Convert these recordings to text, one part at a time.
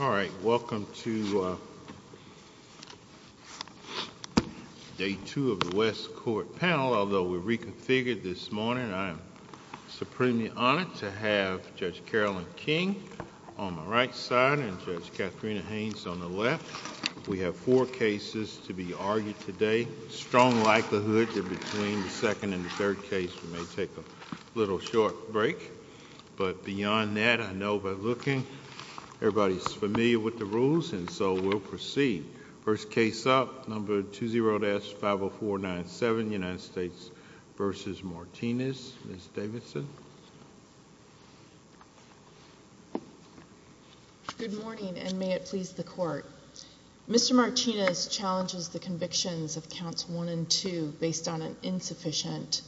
All right, welcome to day two of the West Court panel. Although we're reconfigured this morning, I am supremely honored to have Judge Carolyn King on my right side and Judge Katharina Haynes on the left. We have four cases to be argued today. Strong likelihood that between the second and the third case we may take a little short break. But beyond that, I know by looking, everybody's familiar with the rules and so we'll proceed. First case up, number 20-50497, United States v. Martinez. Ms. Davidson. Good morning and may it please the court. Mr. Martinez challenges the convictions of counts one and two based on an insufficient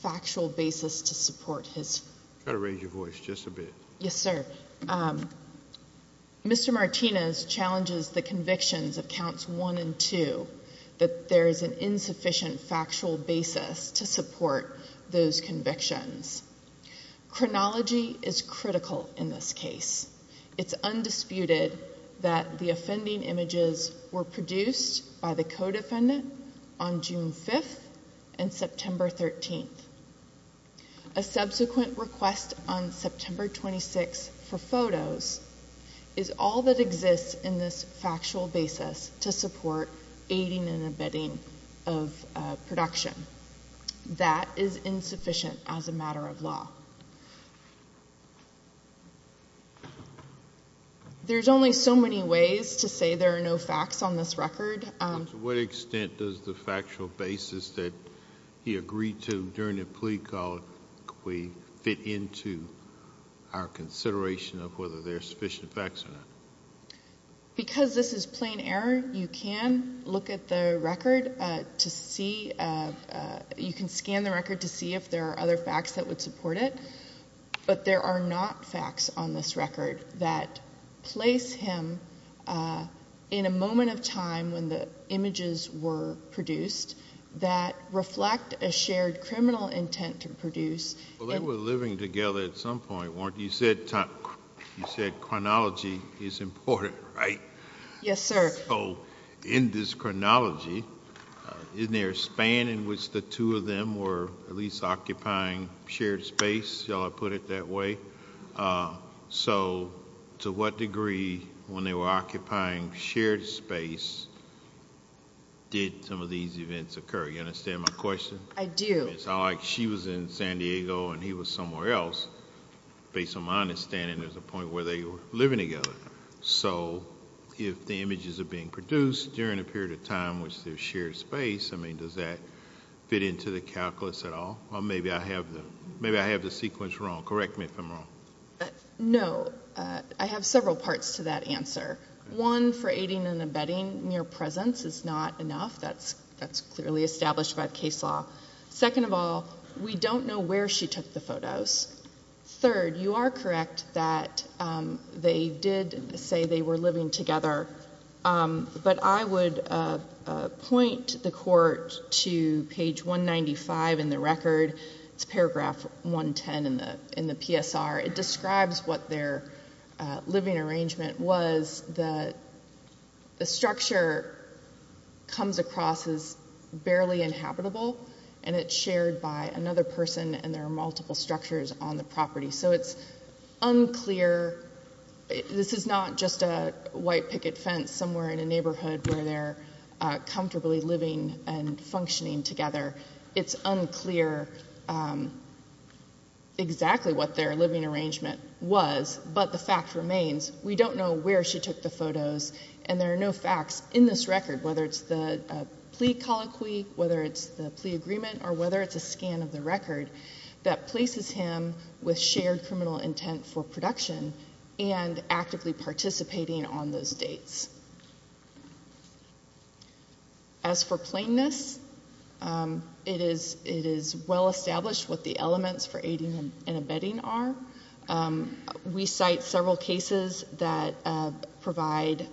factual basis to support his Yes, sir. Mr. Martinez challenges the convictions of counts one and two that there is an insufficient factual basis to support those convictions. Chronology is critical in this case. It's undisputed that the offending images were produced by the co-defendant on June 5th and September 13th. A subsequent request on September 26th for photos is all that exists in this factual basis to support aiding and abetting of production. That is insufficient as a matter of law. There's only so many ways to say there are no facts on this record. To what extent does the factual basis that he agreed to during the plea call fit into our consideration of whether there are sufficient facts or not? Because this is plain error, you can look at the record to see, you can scan the record to see if there are other facts that would support it, but there are not facts on this record that place him in a moment of time when the images were produced that reflect a shared criminal intent to produce. Well, they were living together at some point, weren't you? You said chronology is important, right? Yes, sir. So, in this chronology, isn't there a span in which the two of them were at least occupying shared space, shall I put it that way? So, to what degree, when they were occupying shared space, did some of these events occur? You understand my question? I do. It's not like she was in San Diego and he was somewhere else. Based on my understanding, there's a point where they were living together. So, if the images are being produced during a period of time with their shared space, I mean, does that fit into the calculus at all? Or maybe I have the sequence wrong. Correct me if I'm wrong. No. I have several parts to that answer. One, for aiding and abetting mere presence is not enough. That's clearly established by the case law. Second of all, we don't know where she took the photos. Third, you are correct that they did say they were living together. But I would point the court to page 195 in the record. It's paragraph 110 in the PSR. It describes what their living arrangement was. The structure comes across as barely inhabitable and it's shared by another person and there are multiple structures on the property. So, it's unclear. This is not just a white picket fence somewhere in a neighborhood where they're comfortably living and functioning together. It's unclear exactly what their living arrangement was, but the fact remains we don't know where she took the photos and there are no facts in this record. Whether it's the plea colloquy, whether it's the plea agreement, or whether it's a scan of the record that places him with shared criminal intent for production and actively participating on those dates. As for plainness, it is well established what the elements for aiding and abetting are. We cite several cases that provide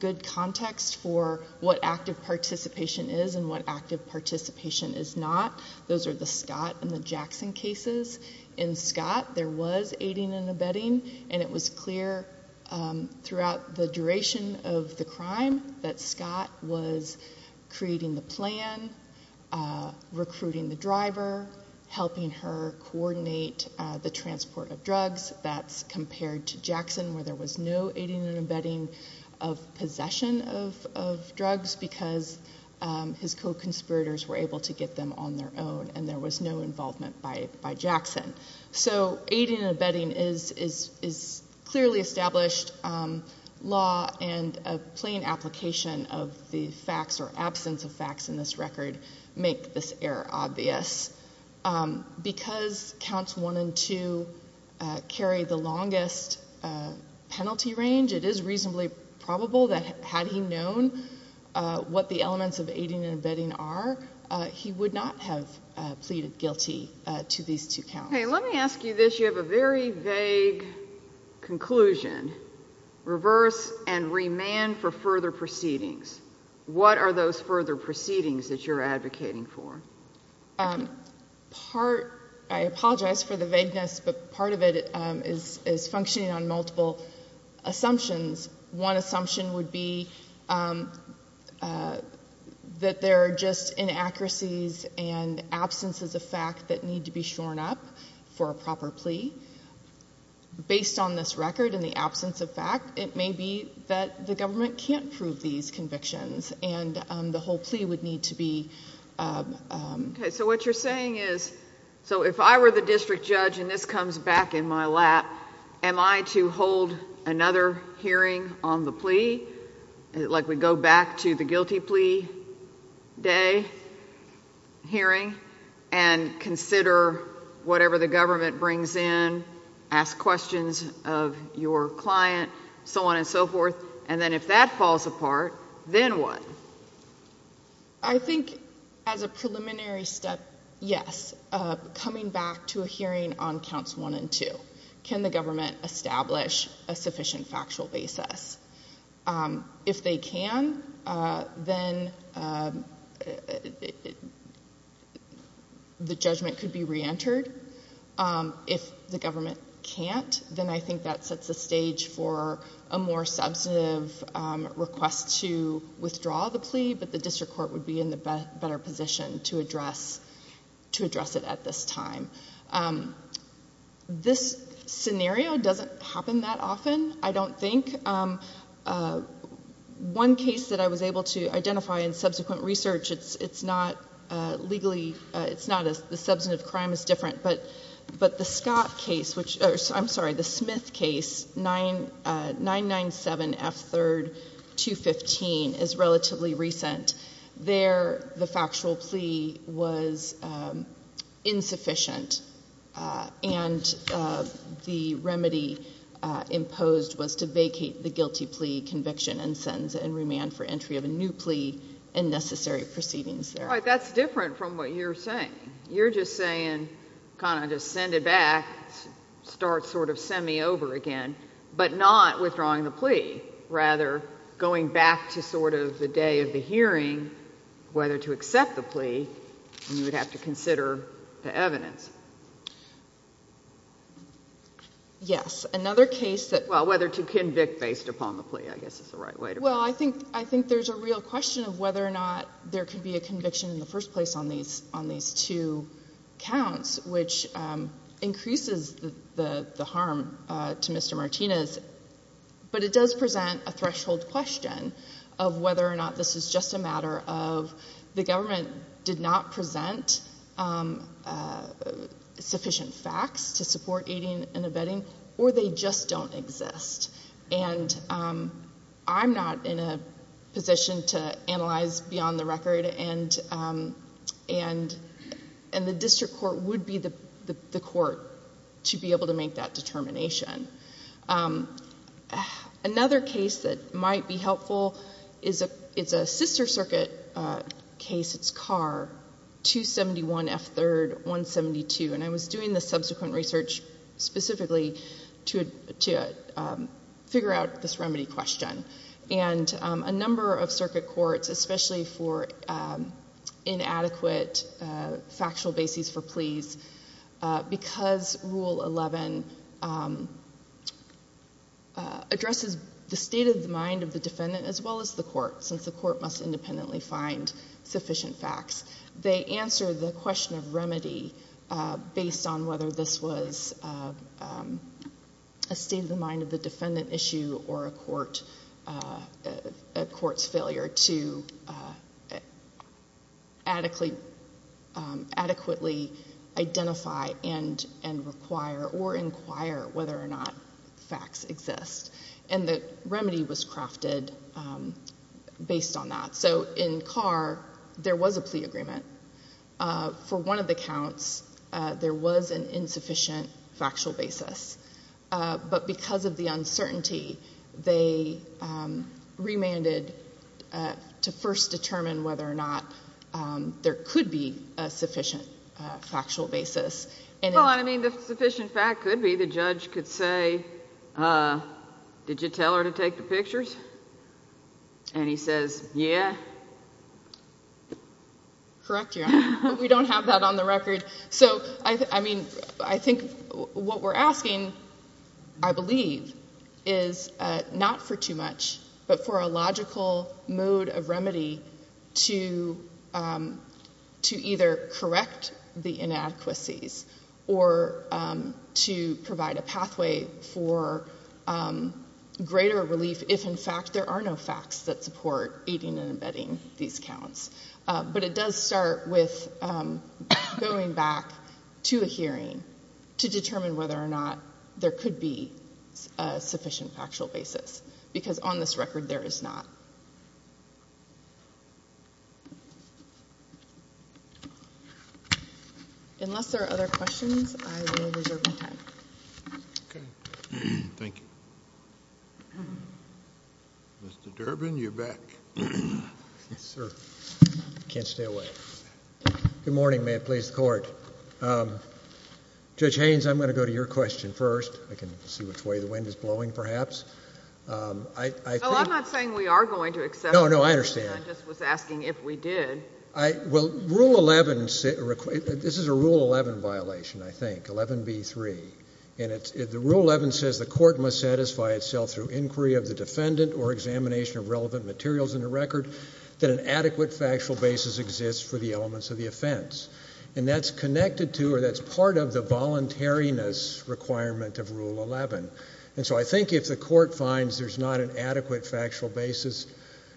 good context for what active participation is and what active participation is not. Those are the Scott and the Jackson cases. In Scott, there was aiding and abetting and it was clear throughout the duration of the crime that Scott was creating the plan, recruiting the driver, helping her coordinate the transport of drugs. That's compared to Jackson where there was no aiding and abetting of possession of drugs because his co-conspirators were able to get them on their own and there was no involvement by Jackson. Aiding and abetting is clearly established law and a plain application of the facts or absence of facts in this record make this error obvious. Because counts one and two carry the longest penalty range, it is reasonably probable that had he known what the elements of aiding and abetting are, he would not have pleaded guilty to these two counts. Okay, let me ask you this. You have a very vague conclusion. Reverse and remand for further proceedings. What are those further proceedings that you're advocating for? I apologize for the vagueness, but part of it is functioning on multiple assumptions. One assumption would be that there are just inaccuracies and absences of fact that need to be shorn up for a proper plea. Based on this record and the absence of fact, it may be that the government can't prove these convictions and the whole plea would need to be... ...asked questions of your client, so on and so forth, and then if that falls apart, then what? I think as a preliminary step, yes. Coming back to a hearing on counts one and two, can the government establish a sufficient factual basis? If they can, then the judgment could be reentered. If the government can't, then I think that sets the stage for a more substantive request to withdraw the plea, but the district court would be in a better position to address it at this time. This scenario doesn't happen that often, I don't think. One case that I was able to identify in subsequent research, the substantive crime is different, but the Smith case, 997F3215, is relatively recent. There, the factual plea was insufficient, and the remedy imposed was to vacate the guilty plea conviction and sentence and remand for entry of a new plea and necessary proceedings there. All right, that's different from what you're saying. You're just saying, kind of just send it back, start sort of semi-over again, but not withdrawing the plea. Rather, going back to sort of the day of the hearing, whether to accept the plea, you would have to consider the evidence. Yes. Another case that... Well, whether to convict based upon the plea, I guess is the right way to put it. Well, I think there's a real question of whether or not there could be a conviction in the first place on these two counts, which increases the harm to Mr. Martinez, but it does present a threshold question of whether or not this is just a matter of the government did not present sufficient facts to support aiding and abetting, or they just don't exist. And I'm not in a position to analyze beyond the record, and the district court would be the court to be able to make that determination. Another case that might be helpful is a sister circuit case, it's Carr, 271 F. 3rd, 172, and I was doing the subsequent research specifically to figure out this remedy question. And a number of circuit courts, especially for inadequate factual bases for pleas, because Rule 11 addresses the state of the mind of the defendant as well as the court, since the court must independently find sufficient facts, they answer the question of remedy based on whether this was a state of the mind of the defendant issue or a court issue. A court's failure to adequately identify and require or inquire whether or not facts exist. And the remedy was crafted based on that. So in Carr, there was a plea agreement. For one of the counts, there was an insufficient factual basis. But because of the uncertainty, they remanded to first determine whether or not there could be a sufficient factual basis. Well, I mean, the sufficient fact could be the judge could say, did you tell her to take the pictures? And he says, yeah. Correct, Your Honor. We don't have that on the record. So, I mean, I think what we're asking, I believe, is not for too much, but for a logical mode of remedy to either correct the inadequacies or to provide a pathway for greater relief if, in fact, there are no facts that support aiding and abetting these counts. But it does start with going back to a hearing to determine whether or not there could be a sufficient factual basis. Because on this record, there is not. Unless there are other questions, I will reserve my time. Okay. Thank you. Mr. Durbin, you're back. Yes, sir. I can't stay away. Good morning. May it please the Court. Judge Haynes, I'm going to go to your question first. I can see which way the wind is blowing, perhaps. No, I'm not saying we are going to accept it. No, no, I understand. I just was asking if we did. Well, Rule 11, this is a Rule 11 violation, I think, 11B3. And Rule 11 says the court must satisfy itself through inquiry of the defendant or examination of relevant materials in the record that an adequate factual basis exists for the elements of the offense. And that's connected to or that's part of the voluntariness requirement of Rule 11. And so I think if the court finds there's not an adequate factual basis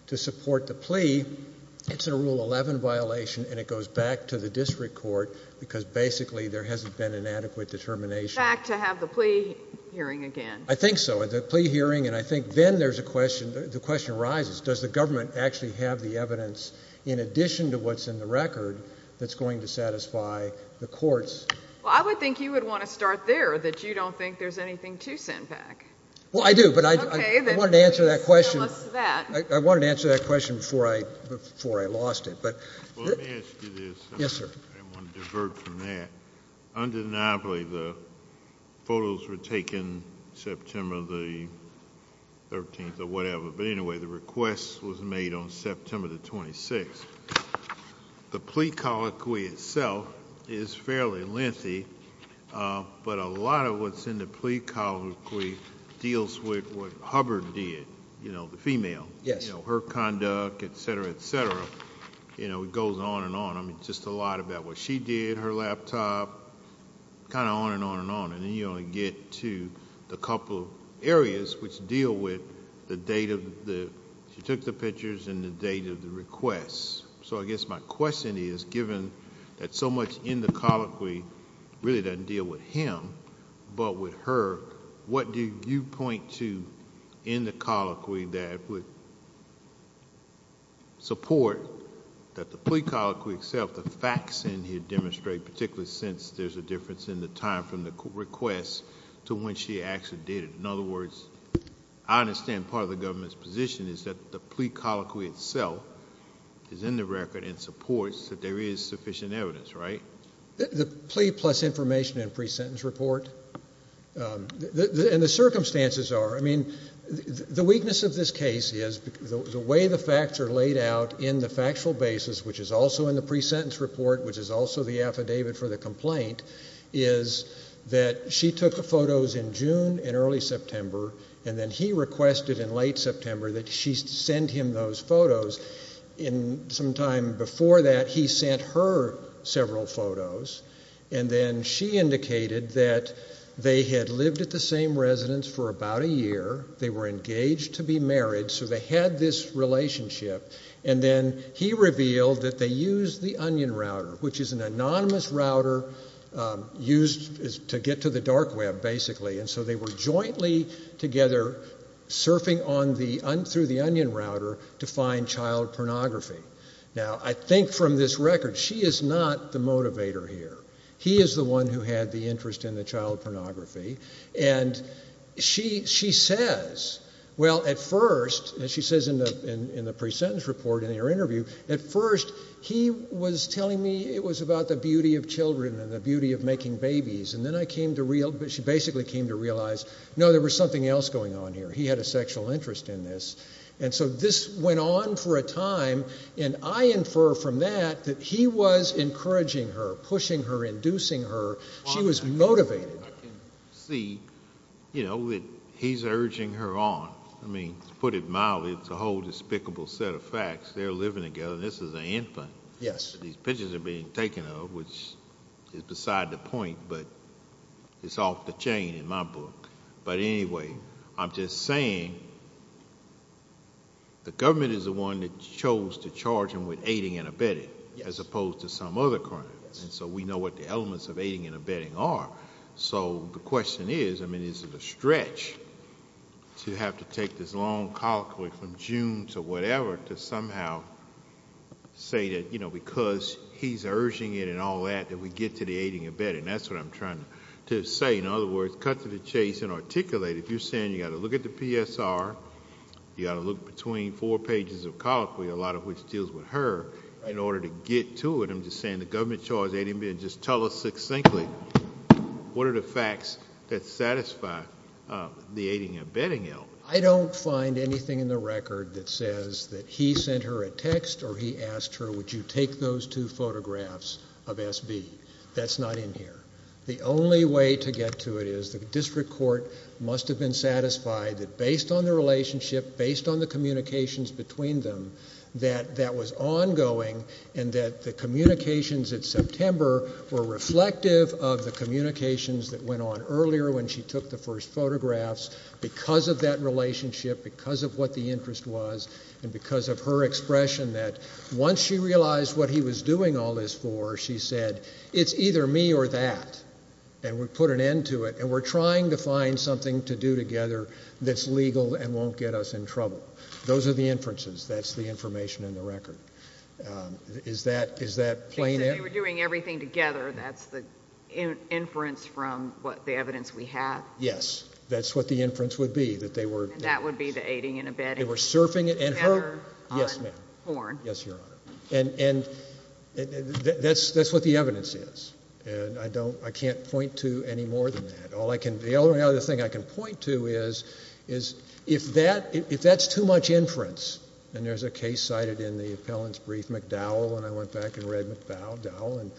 to support the plea, it's a Rule 11 violation and it goes back to the district court because basically there hasn't been an adequate determination. It goes back to have the plea hearing again. I think so. The plea hearing, and I think then there's a question, the question arises, does the government actually have the evidence in addition to what's in the record that's going to satisfy the courts? Well, I would think you would want to start there, that you don't think there's anything to send back. Well, I do, but I wanted to answer that question. Okay, then please tell us that. I wanted to answer that question before I lost it. Well, let me ask you this. Yes, sir. I didn't want to divert from that. Undeniably the photos were taken September the 13th or whatever, but anyway, the request was made on September the 26th. The plea colloquy itself is fairly lengthy, but a lot of what's in the plea colloquy deals with what Hubbard did, you know, the female. Yes. Her conduct, et cetera, et cetera. You know, it goes on and on. I mean, just a lot about what she did, her laptop, kind of on and on and on, and then you only get to the couple areas which deal with the date of the... She took the pictures and the date of the request, so I guess my question is, given that so much in the colloquy really doesn't deal with him but with her, what do you point to in the colloquy that would support that the plea colloquy itself, the facts in here demonstrate, particularly since there's a difference in the time from the request to when she actually did it? In other words, I understand part of the government's position is that the plea colloquy itself is in the record and supports that there is sufficient evidence, right? The plea plus information and pre-sentence report and the circumstances are. I mean, the weakness of this case is the way the facts are laid out in the factual basis, which is also in the pre-sentence report, which is also the affidavit for the complaint, is that she took the photos in June and early September, and then he requested in late September that she send him those photos. Sometime before that, he sent her several photos, and then she indicated that they had lived at the same residence for about a year. They were engaged to be married, so they had this relationship. And then he revealed that they used the Onion Router, which is an anonymous router used to get to the dark web, basically. And so they were jointly together surfing through the Onion Router to find child pornography. Now, I think from this record, she is not the motivator here. He is the one who had the interest in the child pornography. And she says, well, at first, as she says in the pre-sentence report in her interview, at first he was telling me it was about the beauty of children and the beauty of making babies. And then she basically came to realize, no, there was something else going on here. He had a sexual interest in this. And so this went on for a time, and I infer from that that he was encouraging her, pushing her, inducing her. She was motivated. I can see, you know, that he's urging her on. I mean, to put it mildly, it's a whole despicable set of facts. They're living together, and this is an infant. Yes. These pictures are being taken of, which is beside the point, but it's off the chain in my book. But anyway, I'm just saying the government is the one that chose to charge him with aiding and abetting as opposed to some other crimes. And so we know what the elements of aiding and abetting are. So the question is, I mean, is it a stretch to have to take this long colloquy from June to whatever to somehow say that, you know, because he's urging it and all that, that we get to the aiding and abetting? That's what I'm trying to say. In other words, cut to the chase and articulate it. You're saying you've got to look at the PSR, you've got to look between four pages of colloquy, a lot of which deals with her, in order to get to it. I'm just saying the government chose aiding and abetting. Just tell us succinctly what are the facts that satisfy the aiding and abetting element. I don't find anything in the record that says that he sent her a text or he asked her, would you take those two photographs of SB? That's not in here. The only way to get to it is the district court must have been satisfied that based on the relationship, based on the communications between them, that that was ongoing and that the communications at September were reflective of the communications that went on earlier when she took the first photographs because of that relationship, because of what the interest was, and because of her expression that once she realized what he was doing all this for, she said, it's either me or that, and we put an end to it, and we're trying to find something to do together that's legal and won't get us in trouble. Those are the inferences. That's the information in the record. Is that plain evidence? If we're doing everything together, that's the inference from the evidence we have? Yes. That's what the inference would be. That would be the aiding and abetting together on Horn? Yes, ma'am. Yes, Your Honor. And that's what the evidence is, and I can't point to any more than that. The only other thing I can point to is if that's too much inference, and there's a case cited in the appellant's brief, McDowell, and I went back and read McDowell, and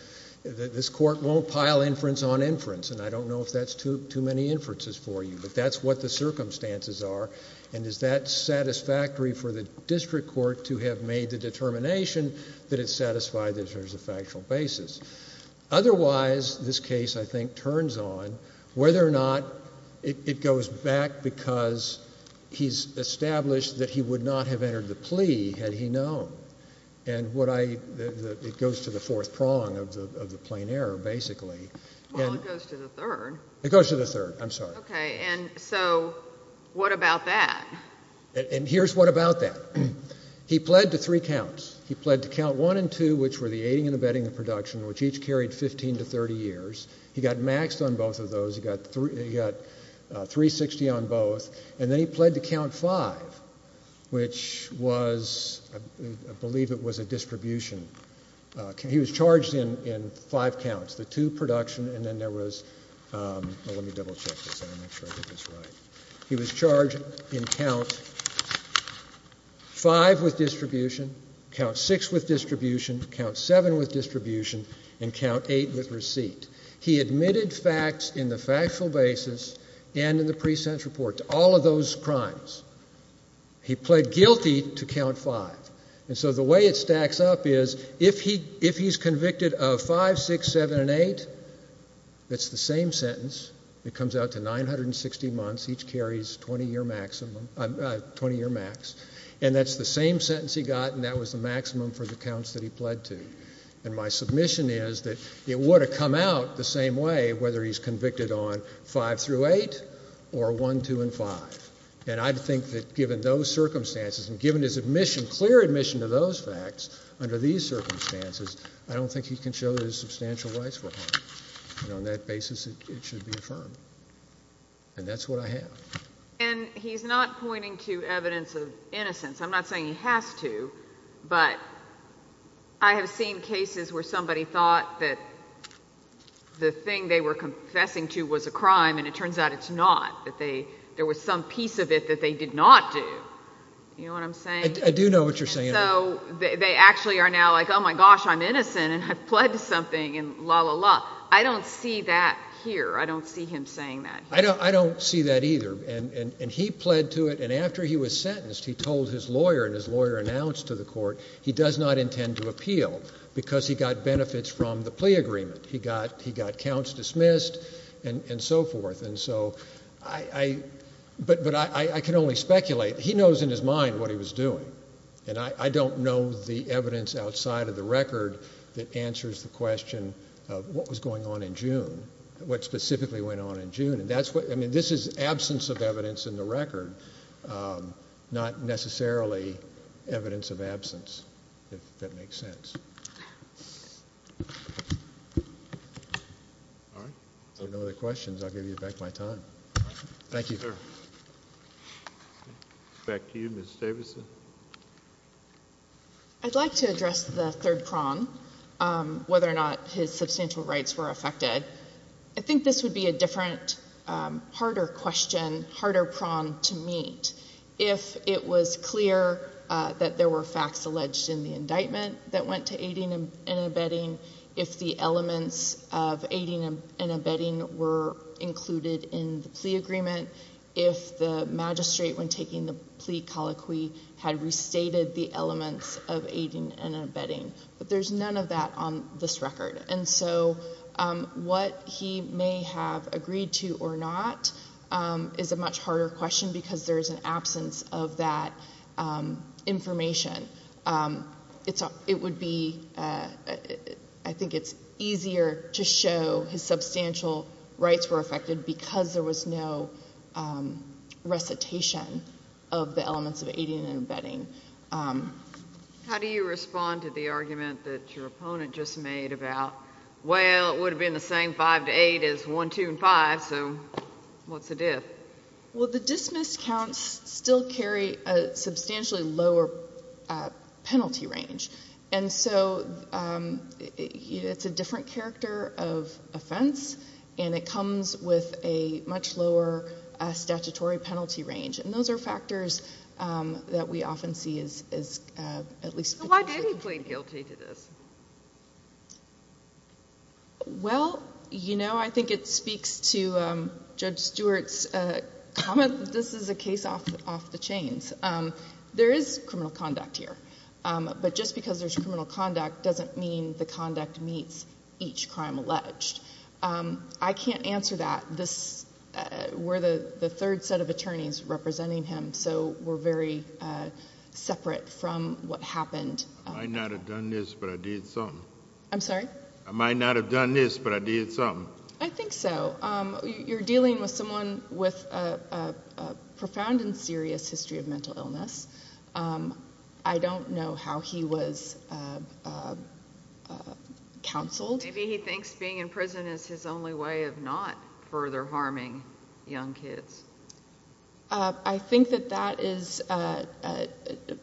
this court won't pile inference on inference, and I don't know if that's too many inferences for you, but that's what the circumstances are, and is that satisfactory for the district court to have made the determination that it's satisfied that there's a factual basis? Otherwise, this case, I think, turns on whether or not it goes back because he's established that he would not have entered the plea had he known, and it goes to the fourth prong of the plain error, basically. Well, it goes to the third. It goes to the third. I'm sorry. Okay, and so what about that? And here's what about that. He pled to three counts. He pled to count one and two, which were the aiding and abetting of production, which each carried 15 to 30 years. He got maxed on both of those. He got 360 on both, and then he pled to count five, which was, I believe it was a distribution. He was charged in five counts, the two production, and then there was, well, let me double check this. I want to make sure I get this right. He was charged in count five with distribution, count six with distribution, count seven with distribution, and count eight with receipt. He admitted facts in the factual basis and in the pre-sentence report to all of those crimes. He pled guilty to count five. And so the way it stacks up is if he's convicted of five, six, seven, and eight, it's the same sentence. It comes out to 960 months. Each carries 20-year max, and that's the same sentence he got, and that was the maximum for the counts that he pled to. And my submission is that it would have come out the same way whether he's convicted on five through eight or one, two, and five. And I think that given those circumstances and given his admission, clear admission to those facts under these circumstances, I don't think he can show that his substantial rights were harmed. And on that basis, it should be affirmed. And that's what I have. And he's not pointing to evidence of innocence. I'm not saying he has to, but I have seen cases where somebody thought that the thing they were confessing to was a crime, and it turns out it's not, that there was some piece of it that they did not do. You know what I'm saying? I do know what you're saying. And so they actually are now like, oh, my gosh, I'm innocent, and I've pled to something, and la, la, la. I don't see that here. I don't see him saying that here. I don't see that either. And he pled to it, and after he was sentenced, he told his lawyer, and his lawyer announced to the court, he does not intend to appeal because he got benefits from the plea agreement. He got counts dismissed and so forth. And so I can only speculate. He knows in his mind what he was doing, and I don't know the evidence outside of the record that answers the question of what was going on in June, what specifically went on in June. I mean, this is absence of evidence in the record, not necessarily evidence of absence, if that makes sense. If there are no other questions, I'll give you back my time. Thank you. Back to you, Ms. Davidson. I'd like to address the third prong, whether or not his substantial rights were affected. I think this would be a different, harder question, harder prong to meet. If it was clear that there were facts alleged in the indictment that went to aiding and abetting, if the elements of aiding and abetting were included in the plea agreement, if the magistrate, when taking the plea colloquy, had restated the elements of aiding and abetting. But there's none of that on this record. And so what he may have agreed to or not is a much harder question because there is an absence of that information. It would be, I think it's easier to show his substantial rights were affected because there was no recitation of the elements of aiding and abetting. How do you respond to the argument that your opponent just made about, well, it would have been the same 5 to 8 as 1, 2, and 5, so what's the diff? Well, the dismissed counts still carry a substantially lower penalty range. And so it's a different character of offense, and it comes with a much lower statutory penalty range. And those are factors that we often see as at least potentially. Why did he plead guilty to this? Well, you know, I think it speaks to Judge Stewart's comment that this is a case off the chains. There is criminal conduct here. But just because there's criminal conduct doesn't mean the conduct meets each crime alleged. I can't answer that. We're the third set of attorneys representing him, so we're very separate from what happened. I might not have done this, but I did something. I'm sorry? I might not have done this, but I did something. I think so. You're dealing with someone with a profound and serious history of mental illness. I don't know how he was counseled. Maybe he thinks being in prison is his only way of not further harming young kids. I think that that is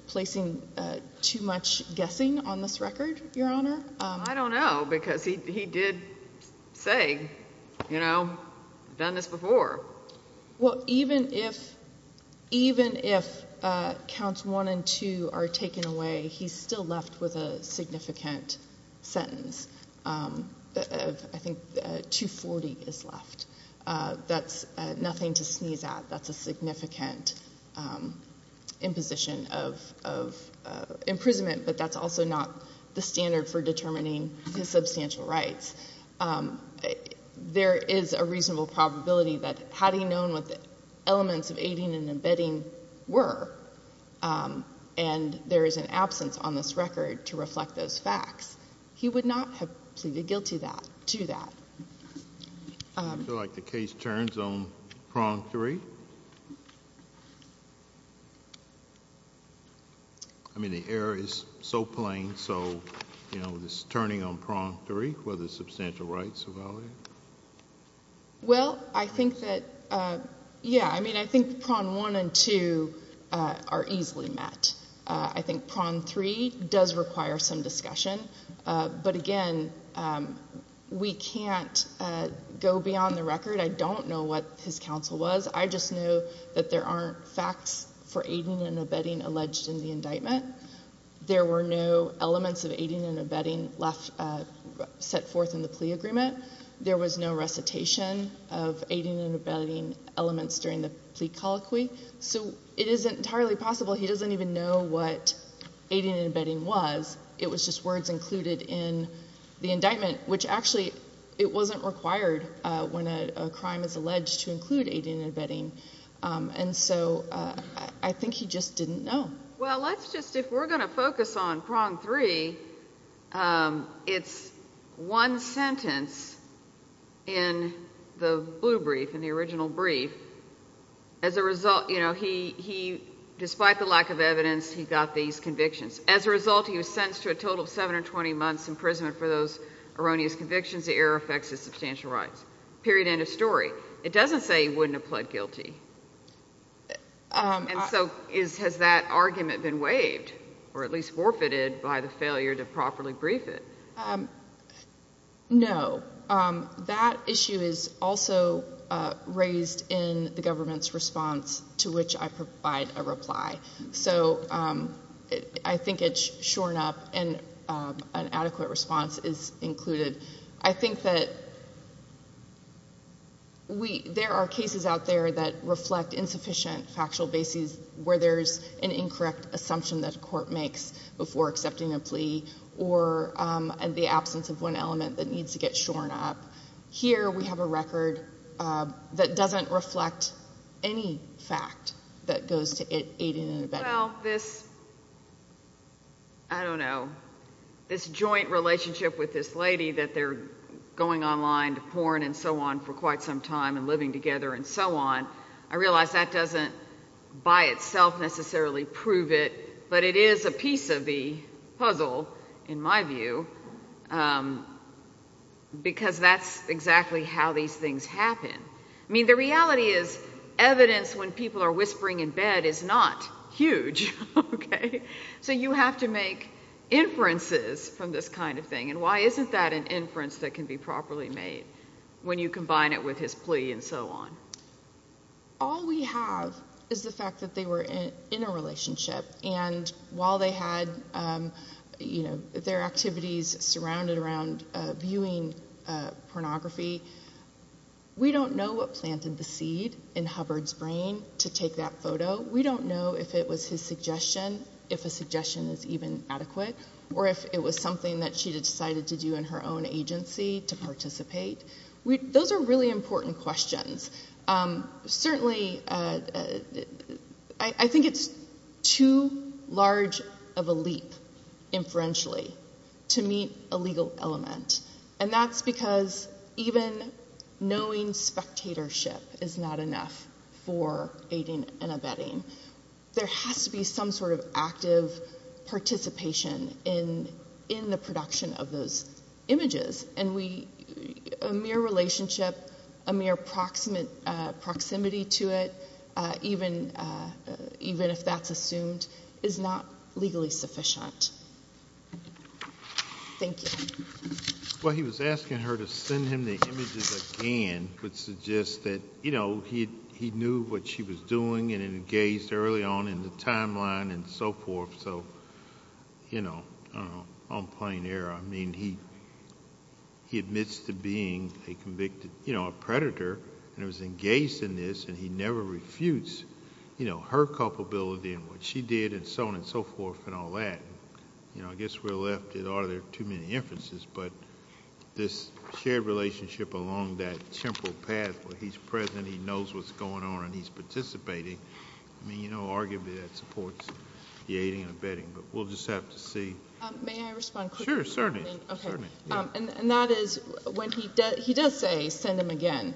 placing too much guessing on this record, Your Honor. I don't know, because he did say, you know, done this before. Well, even if counts one and two are taken away, he's still left with a significant sentence. I think 240 is left. That's nothing to sneeze at. That's a significant imposition of imprisonment, but that's also not the standard for determining his substantial rights. There is a reasonable probability that had he known what the elements of aiding and abetting were, and there is an absence on this record to reflect those facts, he would not have pleaded guilty to that. Do you feel like the case turns on prong three? I mean, the error is so plain, so, you know, this turning on prong three, whether substantial rights are valid. Well, I think that, yeah, I mean, I think prong one and two are easily met. I think prong three does require some discussion. But, again, we can't go beyond the record. I don't know what his counsel was. I just know that there aren't facts for aiding and abetting alleged in the indictment. There were no elements of aiding and abetting set forth in the plea agreement. There was no recitation of aiding and abetting elements during the plea colloquy. So it is entirely possible he doesn't even know what aiding and abetting was. It was just words included in the indictment, which actually it wasn't required when a crime is alleged to include aiding and abetting. And so I think he just didn't know. Well, let's just, if we're going to focus on prong three, it's one sentence in the blue brief, in the original brief. As a result, you know, he, despite the lack of evidence, he got these convictions. As a result, he was sentenced to a total of seven or 20 months' imprisonment for those erroneous convictions. The error affects his substantial rights. Period, end of story. It doesn't say he wouldn't have pled guilty. And so has that argument been waived or at least forfeited by the failure to properly brief it? No. That issue is also raised in the government's response to which I provide a reply. So I think it's shorn up and an adequate response is included. I think that there are cases out there that reflect insufficient factual bases where there's an incorrect assumption that a court makes before accepting a plea or the absence of one element that needs to get shorn up. Here we have a record that doesn't reflect any fact that goes to aid and abetting. Well, this, I don't know, this joint relationship with this lady that they're going online to porn and so on for quite some time and living together and so on, I realize that doesn't by itself necessarily prove it, but it is a piece of the puzzle, in my view, because that's exactly how these things happen. I mean, the reality is evidence when people are whispering in bed is not huge, okay? So you have to make inferences from this kind of thing. And why isn't that an inference that can be properly made when you combine it with his plea and so on? All we have is the fact that they were in a relationship, and while they had their activities surrounded around viewing pornography, we don't know what planted the seed in Hubbard's brain to take that photo. We don't know if it was his suggestion, if a suggestion is even adequate, or if it was something that she decided to do in her own agency to participate. Those are really important questions. Certainly, I think it's too large of a leap, inferentially, to meet a legal element, and that's because even knowing spectatorship is not enough for aiding and abetting. There has to be some sort of active participation in the production of those images, and a mere relationship, a mere proximity to it, even if that's assumed, is not legally sufficient. Thank you. Well, he was asking her to send him the images again, which suggests that he knew what she was doing and engaged early on in the timeline and so forth, so, you know, I don't know, on plain error. I mean, he admits to being a convicted predator and was engaged in this, and he never refutes her culpability in what she did and so on and so forth and all that. I guess we're left at, oh, there are too many inferences, but this shared relationship along that temporal path where he's present, he knows what's going on, and he's participating, I mean, you know, arguably that supports the aiding and abetting, but we'll just have to see. May I respond quickly? Sure, certainly. Okay. And that is, when he does say, send him again,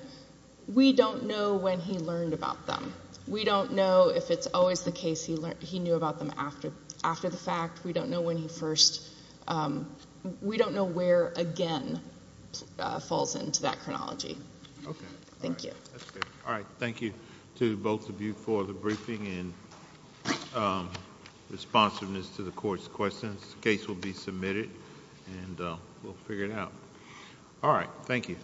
we don't know when he learned about them. We don't know if it's always the case he knew about them after the fact. We don't know when he first, we don't know where, again, falls into that chronology. Okay. Thank you. All right. Thank you to both of you for the briefing and responsiveness to the court's questions. The case will be submitted, and we'll figure it out. All right. Thank you.